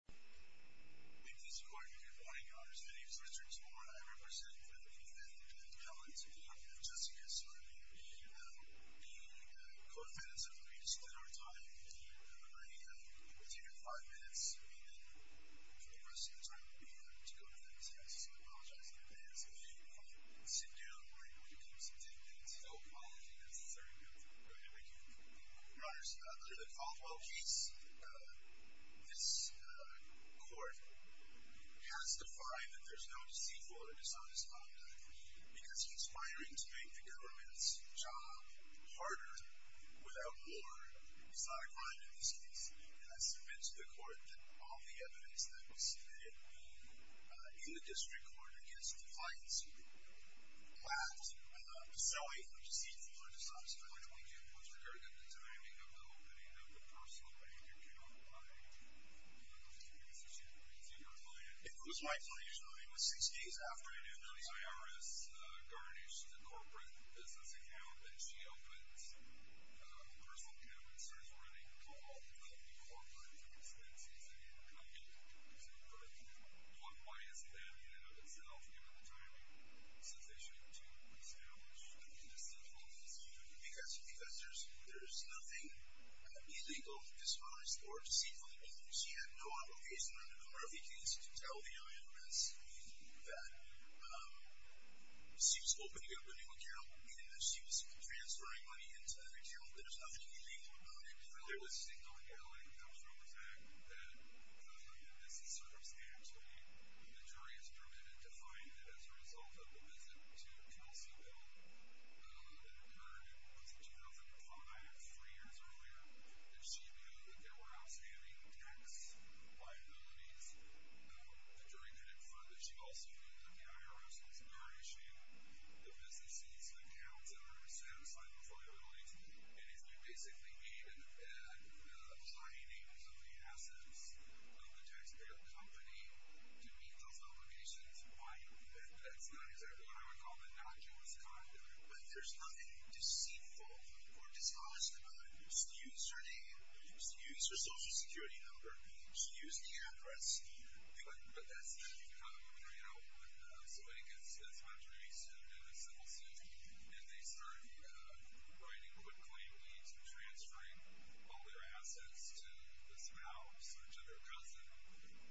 Thank you, Mr. Court. Good morning. My name is Richard Torn. I represent the defendant, Beth Kellins, v. Jessica Soderling, being a co-defendant. So if we could just spend our time in the room right now, between your five minutes and the rest of the time to go ahead and testify. I apologize in advance. We'll see you again when we come to ten minutes. I apologize. Thank you. Your Honor, so after the Caldwell case, this court has defined that there's no deceitful or dishonest conduct, because conspiring to make the government's job harder without war is not a crime in this case. It has been to the court that all the evidence that was submitted in the district court against compliance lacked the sowing of deceitful or dishonest conduct, which we do with regard to the timing of the opening of the personal bank account by Ms. Jessica Soderling. Is that your client? It was my client's, Your Honor. It was six days after I did notice my IRS garnished the corporate business account, and she opens a personal account and starts running a call to the corporate defense agency and kind of put a one-minus band-aid on itself, given the timing, since they should have been established. Why do you think that's the case? Because, Professors, there's nothing illegal, dishonest, or deceitful about it. She had no obligation under the Murphy case to tell the IRS that she was opening a new account, meaning that she was transferring money into the account. There's nothing illegal about it, Your Honor. There was no embezzlement coming from the fact that the jury has permanently defined it as a result of a visit to Tulsa, Illinois, that occurred in 2005, three years earlier, and she knew that there were outstanding tax liabilities. The jury could infer that she also knew that the IRS was garnishing the business's accounts under satisfying its liabilities, and if you basically waited at the high names of the assets of the taxpayer company to meet those obligations, why, that's not exactly what I would call the innocuous conduct, but there's nothing deceitful or dishonest about it. She used her name, she used her Social Security number, she used the address, but that's not the kind of woman I help with, so I guess that's my tradition in the civil sense, and they started writing quick claim deeds and transferring all their assets to the spouse, or to their cousin,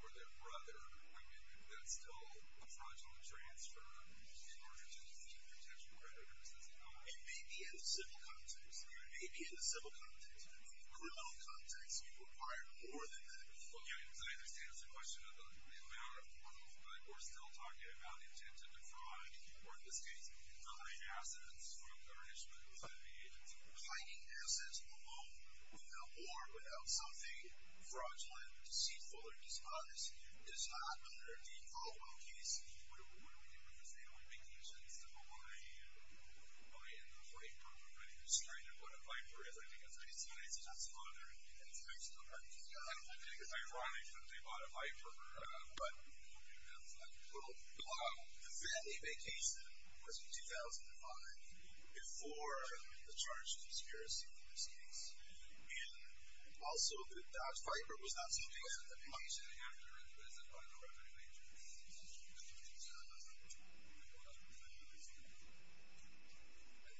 or their brother, I mean, that's still a fraudulent transfer in order to keep the potential creditors. It may be in the civil context. It may be in the civil context. In the criminal context, we require more than that. Okay, I understand it's a question of the power of the law, but we're still talking about the intent to defraud, or in this case, hiding assets from garnishment. Hiding assets alone, you know, or without something fraudulent, deceitful, or dishonest, is not under a default location. What do we do with disabled vacations to Hawaii? Oh yeah, the freight program, right? I'm sorry, they bought a Viper, I think that's what it's called, and it's Mexico, right? I think it's ironic that they bought a Viper, but, you know, it's like a little clown. We had a vacation, this was in 2005, before the charge of conspiracy in this case, and also the Dodge Viper was not seen as a punishing actor, but as a crime of record in nature, and I think that's a concern. That's not what we're talking about. Well, that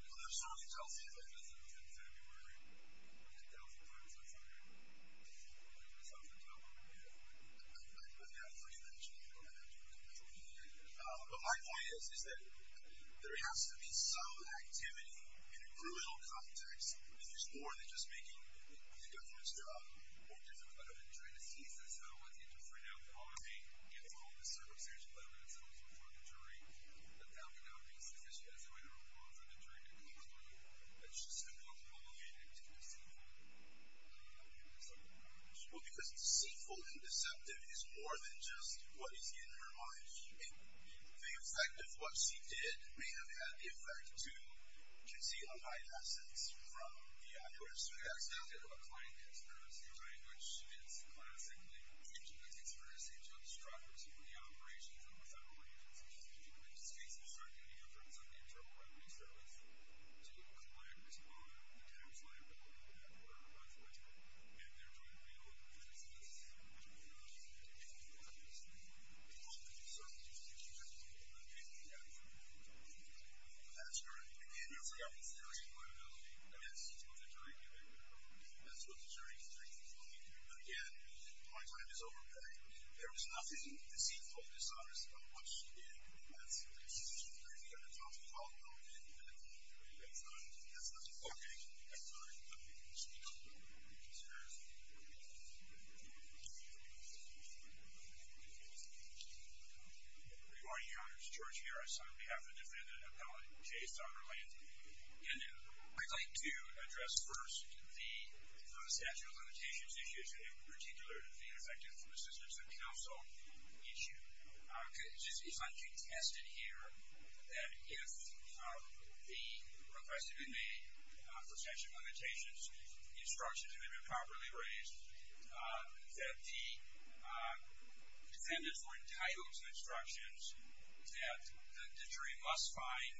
certainly tells me that this was in February, and that that was a crime of record. That's not what we're talking about. I think that's what you mentioned. But my point is, is that there has to be some activity in a crucial context to explore the case, and not just making the government's job more difficult. I don't mean to try to seize this, but I don't know what to do for now. Obviously, it's all in the circumstance, but I don't want to throw this in front of the jury, but that would not be sufficient as a way to remove the jury to come to the court. It's just a complicated activity. Well, because deceitful and deceptive is more than just what is in her mind. The effect of what she did may have had the effect to conceal a hideousness from the accuracy. That's not a client conspiracy claim, which is classically treated as conspiracy to obstruct the operation from the federal agency. It speaks to certainly the influence of the internal evidence that was to collect on the dams land that we were at for a month or two. And they're going to be able to do this, and that is the point of the assertion. That's the point of the assertion. That's the point of the assertion. Again, my time is over. There was nothing deceitful or dishonest about what she did. That's not the point of the assertion. That's not the point of the assertion. That's not the point of the assertion. Thank you, sir. Good morning, Your Honor. It's George Harris on behalf of defendant appellate Jay Sonderland. I'd like to address first the statute of limitations issue, in particular the effective assistance of counsel issue. It's not contested here that if the request to be made for statute of limitations instructions have been properly raised that the defendants were entitled to instructions that the jury must find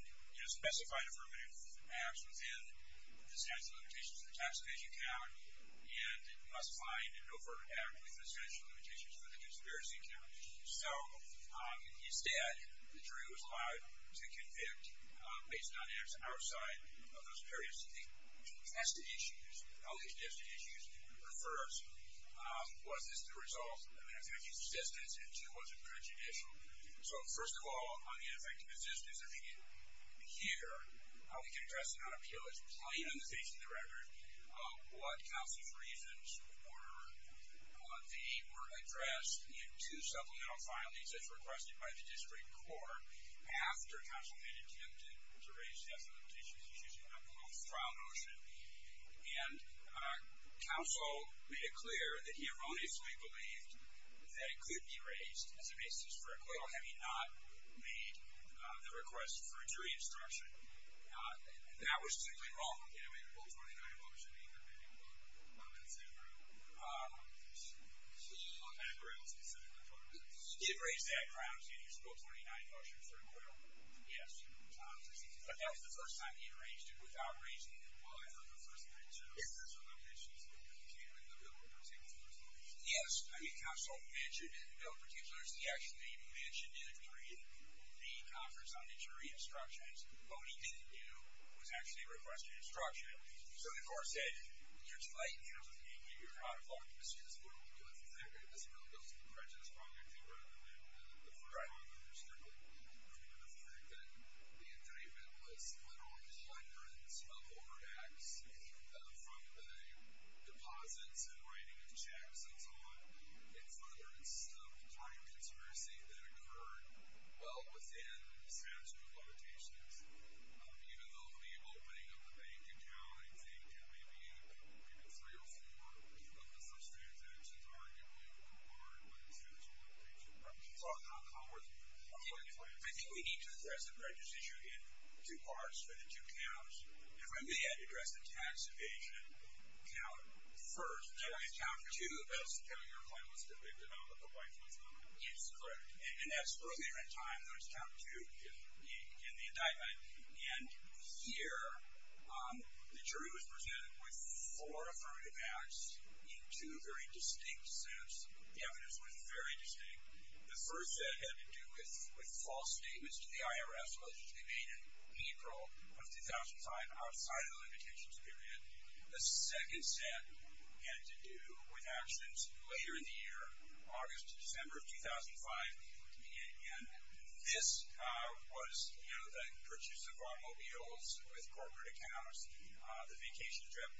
specified affirmative acts within the statute of limitations for the tax evasion count and must find an overt act within the statute of limitations for the conspiracy count. He said the jury was allowed to convict based on acts outside of those areas that the contested issues, the contested issues refers. Was this the result of an effective assistance? And two, was it prejudicial? So, first of all, on the effective assistance, if you hear how we can address the non-appeal, it's plain on the face of the record what counsel's reasons were. They were addressed in two supplemental filings as requested by the district court after counsel made an attempt to raise statute of limitations issues in a trial motion, and counsel made it clear that he erroneously believed that it could be raised as a basis for acquittal had he not made the request for jury instruction. That was simply wrong. He had made a Bill 29 motion. He did raise that grounds in his Bill 29 motion for acquittal? Yes. But that was the first time he raised it without raising it? Well, that was the first time, too. Yes. I mean, counsel mentioned in the Bill in particular is the action that he mentioned in the conference on the jury instructions. What he didn't do was actually request an instruction. So the court said, you're slight, you know, you're out of office. Excuse me. Right. The fact that the indictment was literally shuddering, smelting over the axe from the deposits and writing of checks and so on in front of us, the kind of conspiracy that occurred well within statute of limitations, even though the opening of the bank account, I think, it may be 3 or 4 of the first three events of the argument were related to the statute of limitations. I think we need to address the prejudice issue in two parts, in two counts. If I may, I'd address the tax evasion count first. Then I'd count two of those. That's correct. And as earlier in time, there was count two in the indictment. And here the jury was presented with four affirmative acts in two very distinct sets. The evidence was very distinct. The first set had to do with false statements to the IRS as it was made in April of 2005 outside of the limitations period. The second set had to do with actions later in the year, August to December of 2005. And this was, you know, the purchase of automobiles with corporate accounts, the vacation trip,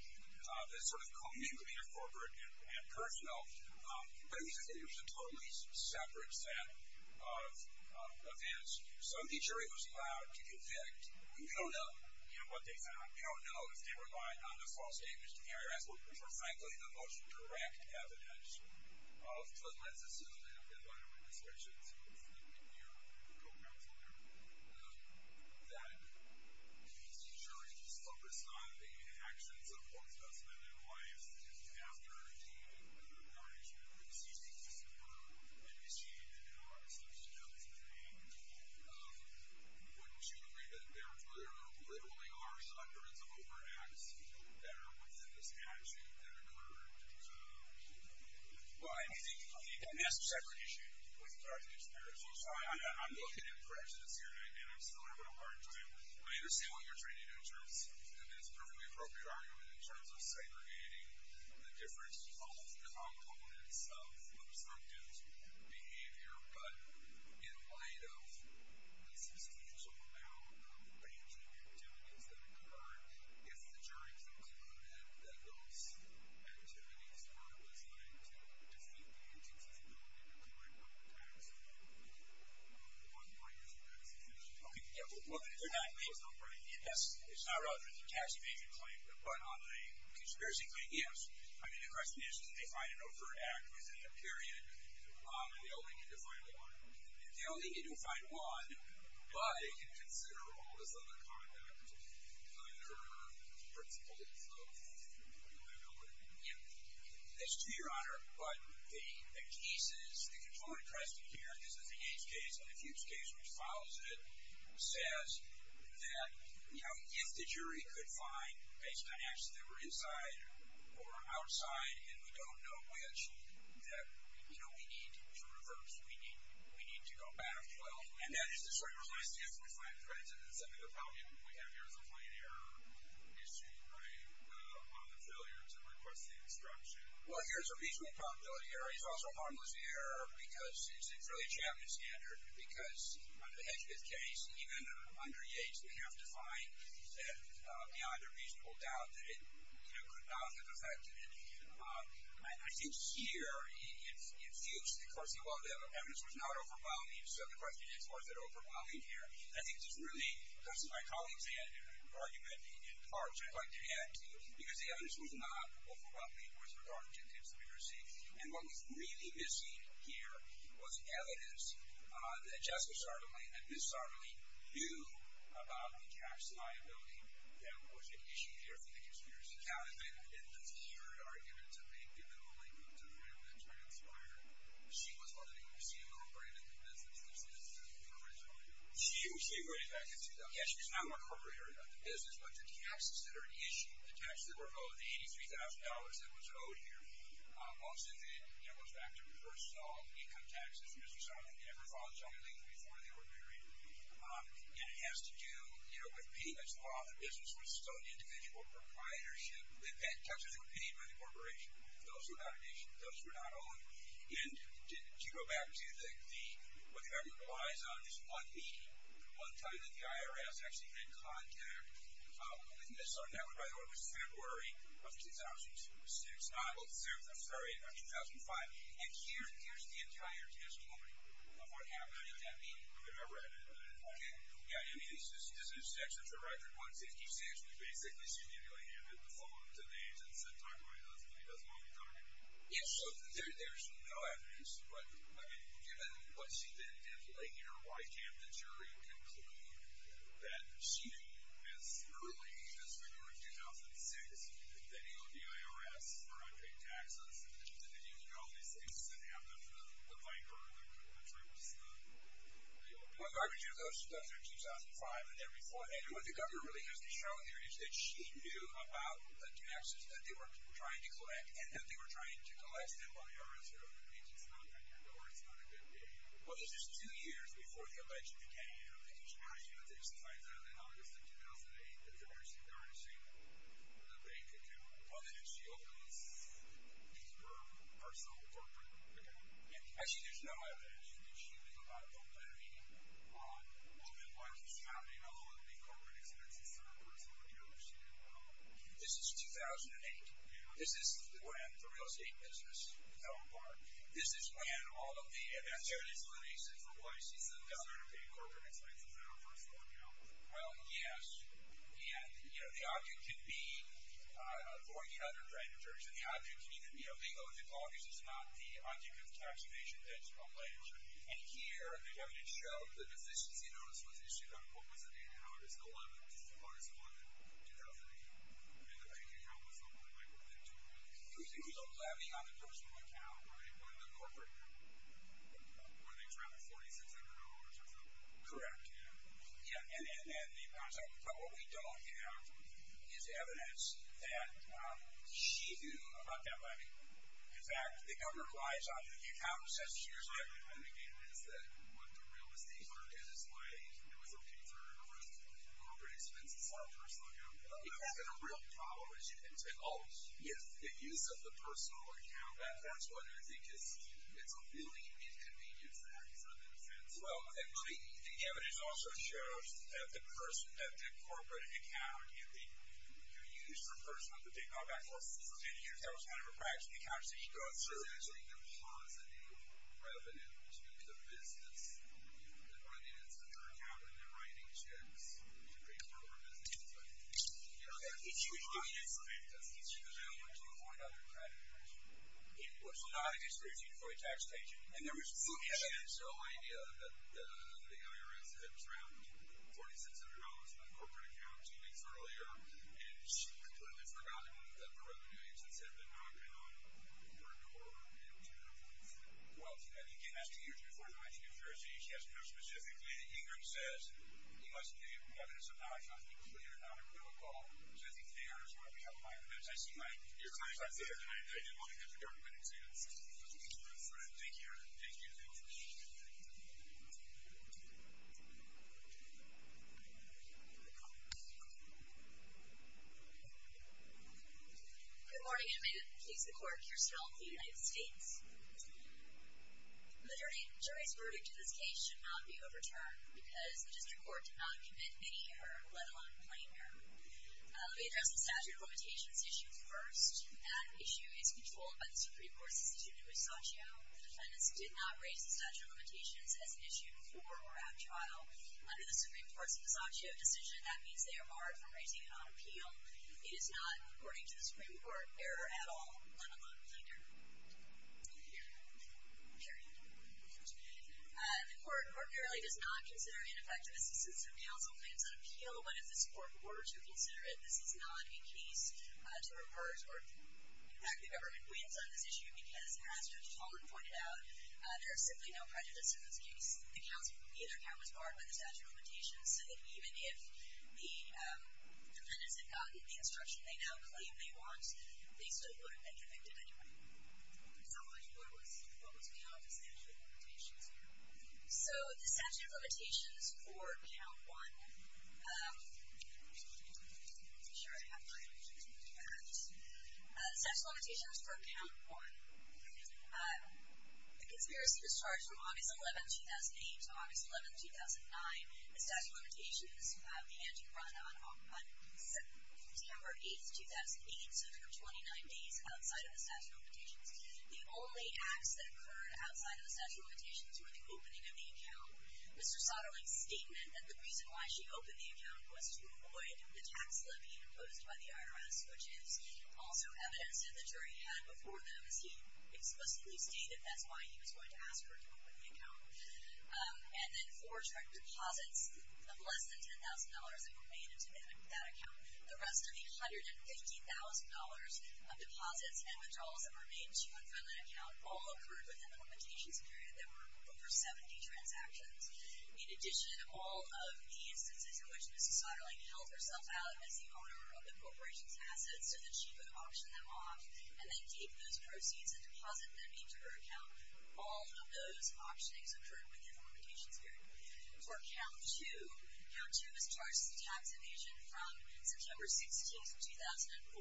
this sort of commingling of corporate and personal. But it was a totally separate set of events. So the jury was allowed to convict. We don't know, you know, what they found. We don't know if they relied on the false statements to the IRS, which were frankly the most direct evidence of negligence. So they don't get a lot of registration. So you and your co-counselor that the jury focused on the actions of false testament and why, as it is after the violation of the CCS were initiated in August of 2005, wouldn't you agree that there were literally harsh records of over-acts that are within this action that occurred? Well, I think, I mean, that's a separate issue. I'm looking at prejudice here, and I'm still having a hard time understanding what you're trying to do in terms of, and that's a perfectly appropriate argument, in terms of segregating the difference in false components of an observable behavior, but in light of the substantial amount of acting activities that occurred, if the jury concluded that those activities were trying to defeat the agency's ability to collect public tax money on the one violation that was initiated. Okay, yeah, well, look, it's not a tax evasion claim, but on a conspiracy claim, yes. I mean, the question is did they find an overt act within that period, or did they only need to find one? They only need to find one, but it can consider all this other conduct under the principles of, I don't know, but, yeah. That's true, Your Honor, but the cases, the controlling precedent here, this is the Yates case and the Fuchs case which follows it, says that, you know, if the jury could find based on action that were inside or outside and we don't know which, that, you know, we need to reverse. We need to go back. Well, and that is the sort of relationship that we have here as a plain error issue, right, on the failure to request the instruction. Well, here's a reasonable probability error. It's also a harmless error because it's really a Chapman standard because under the Hedgepith case, even under Yates, we have to find that beyond a reasonable doubt that it could not have affected it. I think here in Fuchs, of course, the quality of the evidence was not overwhelming, so the question is, was it overwhelming here? I think this is really, this is my colleague's argument in part, but in part because the evidence was not overwhelming with regard to conspiracy and what was really missing here was evidence that just so sharply, that just so sharply knew about the tax liability that was at issue here for the conspiracy. Now, in the third argument, to make the literal language of the argument transpire, she was one of the, I see a little break in the business. She was not in the corporate area of the business, but the taxes that are at issue, the taxes that were owed, the $83,000 that was owed here also then, you know, was back to reverse solve income taxes and this was something that never was on the legal reform of the ordinary. And it has to do, you know, with payments off, the business was still the individual proprietorship. The taxes were paid by the corporation. Those were not owned. And to go back to the, what the argument relies on is what the, one time that the IRS actually had contact with Nistar Network, by the way, was February of 2006, not, well, February of 2005 and here, here's the entire tax recovery of what happened in that meeting. Yeah, I read it, but I didn't find it. Okay. Yeah, I mean, this is, this new section to right here, 156, was basically simulating a good performance in NIST as I'm talking about, it doesn't, it doesn't want to be covered. Yeah, so there's no evidence, but, I mean, given what she did, like, you know, why can't the jury conclude that she, as early as February of 2006, that the IRS corrected taxes and that, you know, all these things that happened with the bank or the, which was the, you know. Well, the argument goes to February of 2005 and then before, anyway, the governor really has to show here that she knew about the taxes that they were trying to collect and that they were trying to collect them while the IRS were open, which means it's not that good, or it's not a good deal. Well, it's just two years before the alleged decay of the insurance, you know, things like that in August of 2008 that the IRS is garnishing the bank account. Well, then she opens a personal corporate account. Okay. And actually, there's no evidence that she knew about the levy on women, once it's found in all of the corporate accounts. This is 2008. Yeah. This is when the real estate business fell apart. This is when all of the, and that's the only explanation for why she's the daughter of a corporate influence. Is that a personal account? Well, yes. And, you know, the object can be $1,400, right, in terms of the object can either be, you know, the object is not the object of tax evasion that's a ledger. And here, the evidence shows that if this is the August 11, August 11, 2008, I mean, the bank account was open, like, within two months. It was a personal levy on the personal account, right, on the corporate women's round of $4,600 or something. Correct. Yeah. And the account's open. But what we don't have is evidence that she knew about that levy. In fact, the government lies on it. The account was just years old. And again, it's that what the real estate firm in this way was looking for was corporate expenses on a personal account. You're having a real problem with the use of the personal account. That's what I think is, it's a really inconvenient fact, in a sense. Well, the evidence also shows that the person, that the corporate account can be used for personal, that they are about $4,600. That was one of her practical accounts that she got. So there's a positive revenue to the business, but I mean, it's a turnabout in the right-hand sense to bring the corporate business back into business. It was not an excuse for a taxpayer. And there was some potential idea that the IRS had grabbed $4,600 from a corporate account two weeks earlier, and she had completely forgotten that the revenue agents had been monitoring on the corporate door in two different ways. Well, again, that's two years before the 19th of February, so you can't know specifically. Ingrid says, he must be, whether it's a non-continuity or not, or whether it's both. So I think the IRS might be on my end, as I see mine. Your client's not there, and I didn't want to get the government involved. Thank you. Good morning, Amanda. Please record your spell for the United States. The jury's verdict in this case should not be overturned, because the district court did not commit any or let alone claim her. We address the statute of limitations issues first. That issue is controlled by the Supreme Court's decision in Passaccio. The defendants did not raise the statute of limitations as an issue before or after trial. Under the Supreme Court's Passaccio decision, that means they are barred from raising it on appeal. It is not, according to the Supreme Court, error at all, let alone claim her. The court apparently does not consider it an effective assistance for counsel when it's on appeal, but if this court were to consider it, this is not a case to reverse, or in fact, the government wins on this issue, because as Judge Holland pointed out, there is simply no prejudice in this case. The counsel either now is barred by the statute of limitations so that even if the defendants have gotten the case they want, they still wouldn't have been convicted anyway. So what was the statute of limitations for? So the statute of limitations for Count 1 I'm sure I have my statute of limitations for Count 1 The conspiracy was charged from August 11, 2008 to August 11, 2009. The statute of limitations began to run on September 8, 2008, so for 29 days outside of the statute of limitations. The only acts that occurred outside of the statute of limitations were the opening of the account. Mr. Soderling's statement that the reason why she opened the account was to avoid the tax slip being imposed by the IRS, which is also evidence that the jury had before them as he explicitly stated that's why he was going to ask her to open the account. And then four direct deposits of less than $10,000 were made into that account. The rest of the $150,000 of deposits and withdrawals that were made into that account all occurred within the limitations period. There were over 70 transactions. In addition, all of the instances in which Ms. Soderling held herself out as the owner of the corporation's assets so that she could auction them off and then take those proceeds and deposit them into her account, all of those auctionings occurred within the limitations period. For Count 2, Count 2 was charged with tax evasion from September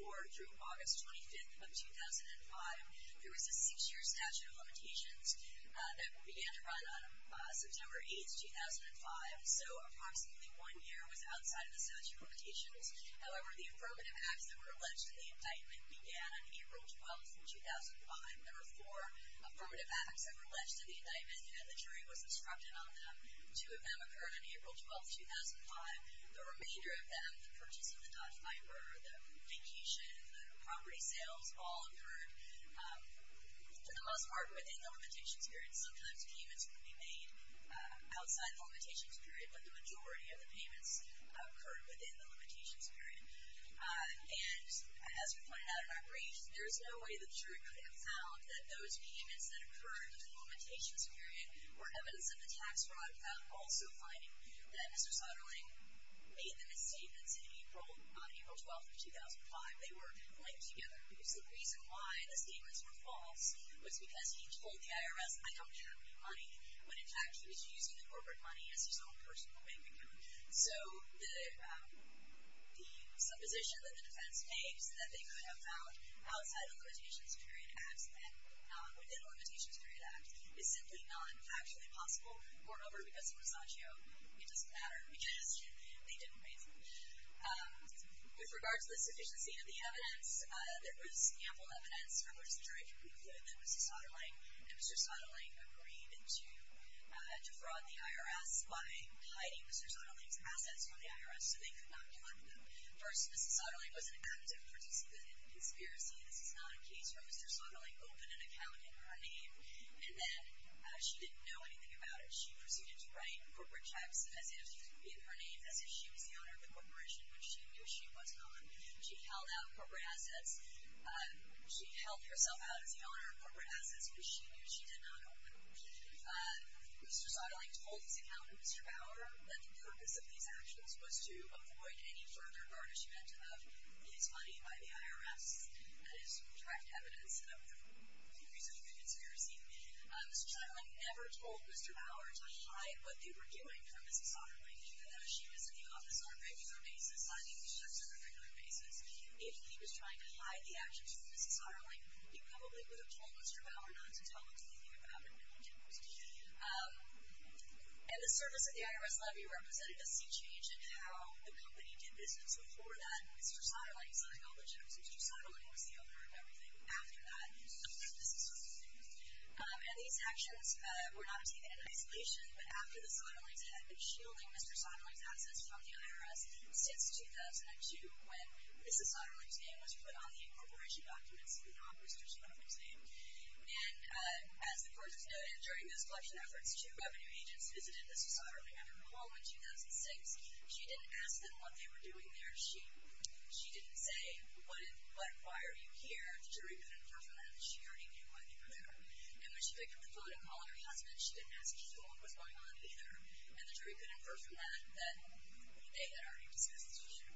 16, 2004 through August 25, 2005. There was a six-year statute of limitations that began to run on September 8, 2005, so approximately one year was outside of the statute of limitations. However, the affirmative acts that were alleged to the indictment began on April 12, 2005. There were four affirmative acts that were alleged to the indictment and the jury was instructed on them. Two of them occurred on April 12, 2005. The remainder of them, the purchasing of Dodge Viper, the vacation, the property sales, all occurred to the most part within the limitations period. Sometimes payments could be made outside the limitations period, but the majority of the payments occurred within the limitations period. And as we pointed out in our brief, there's no way the jury could have found that those payments that occurred within the limitations period were evidence of a tax fraud without also finding that Mr. Sutterling made them his statements on April 12, 2005. They were linked together because the reason why the statements were false was because he told the IRS I don't have any money, when in fact he was using the corporate money as his own personal way to do it. So the supposition that the defense made was that they could have found outside the limitations period act and within the limitations period act is simply not actually possible. Moreover, because of Rosaggio, it doesn't matter. Again, they didn't raise it. With regards to the sufficiency of the evidence, there was sample evidence from which the jury concluded that Mr. Sutterling agreed to defraud the IRS by hiding Mr. Sutterling's assets from the IRS so they could not collect them. First, Mr. Sutterling was an active participant in conspiracy. This is not a case where Mr. Sutterling opened an account in her name and then she didn't know anything about it. She proceeded to write corporate checks in her name as if she was the owner of the corporation which she knew she was not. She held out corporate assets She held herself out as the owner of corporate assets which she knew she did not own. Mr. Sutterling told his accountant, Mr. Bauer, that the purpose of these actions was to avoid any further garnishment of his money by the IRS as direct evidence of his own conspiracy. Mr. Sutterling never told Mr. Bauer to hide what they were doing from Mrs. Sutterling even though she was in the office on a regular basis, not even just on a regular basis. If he was trying to hide the actions of Mrs. Sutterling, he probably would have told Mr. Bauer not to tell him anything about what they were doing. And the service that the IRS levied represented a sea change in how the company did business before that. Mr. Sutterling signed all the checks. Mr. Sutterling was the owner of everything after that. And these actions were not taken in isolation, but after the Sutterlings had been shielding Mr. Sutterling's assets from the IRS since 2002 when Mrs. Sutterling's name was put on the incorporation documents of the non-Mrs. Sutterling's name. During those collection efforts, two revenue agents visited Mrs. Sutterling at her home in 2006. She didn't ask them what they were doing there. She didn't say, why are you here? The jury couldn't infer from that that she already knew why they were there. And when she picked up the phone and called her husband, she didn't ask him what was going on either. And the jury couldn't infer from that that they had already discussed this issue.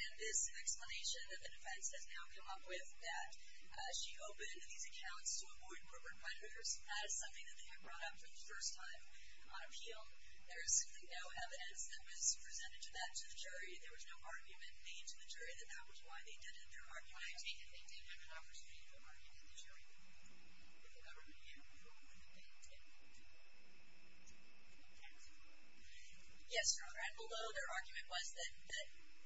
And this explanation that the defense has now come up with that she opened these accounts to avoid the number of record breakers, that is something that they had brought up for the first time on appeal. There is simply no evidence that was presented to that jury. There was no argument made to the jury that that was why they did it. There are plenty of things that have been offered to the jury. Yes, Your Honor. And below their argument was that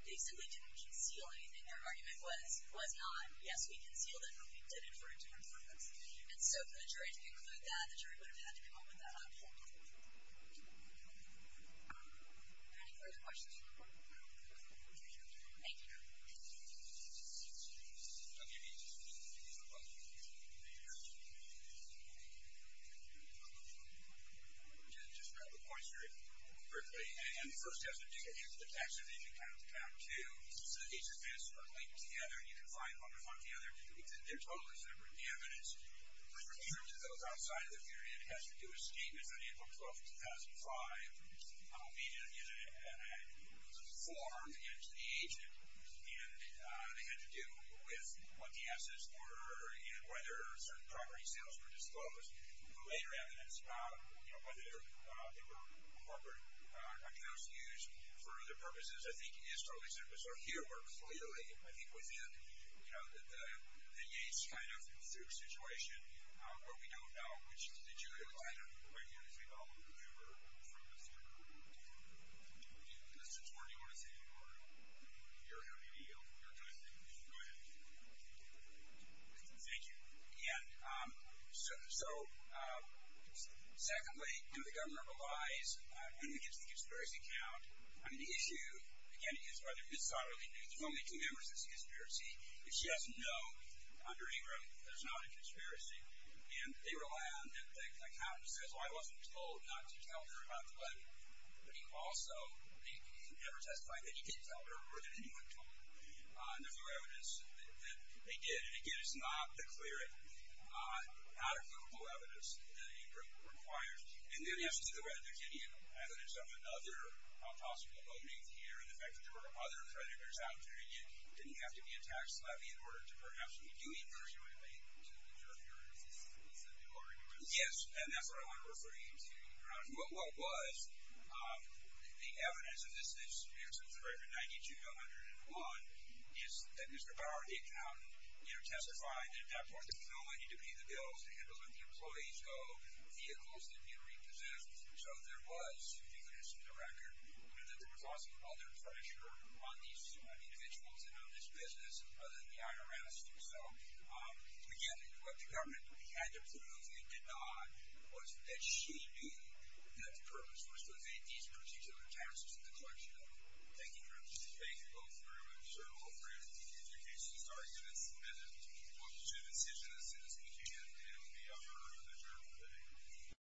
they simply didn't conceal anything. Their argument was not. Yes, we concealed it, but we did infer it to them from us. And so for the jury to conclude that, the jury would have had to come up with that option. Are there any further questions? Thank you. Any additional questions? Just to wrap up points briefly, and the first question, did you get into the tax evasion kind of account too, so that each of these are linked to the other and you can find one in front of the other? They're totally separate. The evidence referred to those outside of the jury and it has to do with statements on April 12, 2005 and it was informed into the agent and it had to do with what the assets were and whether certain property sales were disclosed. The later evidence, whether they were corporate accounts used for other purposes, I think is totally separate. So here we're clearly, I think, within the Yates kind of suit situation, where we don't know which is the jury line. I don't know if you have anything to add to that. Mr. Torney, do you want to say anything? Go ahead. Thank you. And so, secondly, do the governor revise any of his tax evasion accounts? I mean, the issue, again, is whether his son really knew. There's only two members of the conspiracy. If she doesn't know, under April, there's not a conspiracy and they rely on the accountant who says, well, I wasn't told not to tell her about the letter. But he also, he never testified that he did tell her or that anyone told him. And there's no evidence that they did. And again, it's not the clearest, not accountable evidence that April required. And then, yes, to the right, there's any evidence of another possible voting here and the fact that there were other creditors out there, and it didn't have to be a tax levy in order to perhaps be doing this. Do you relate to the jury? Yes, and that's what I want to refer you to. But what was the evidence of this, and it was written in 9201, is that Mr. Bauer, the accountant, testified that no one needed to pay the bills to handle them. Employees go. Vehicles didn't need to be repossessed. So there was, if you can just keep a record, that there was also other pressure on these individuals to know this business other than the IRS. So, again, what the government had to prove, and it did not, was that she knew that the purpose was to evade these particular taxes and the collection of them. Thank you very much. Thank you both very much. Sir, I'm afraid if you can introduce this argument, it's a bit of, well, it's a decision, a citizen decision, and it would be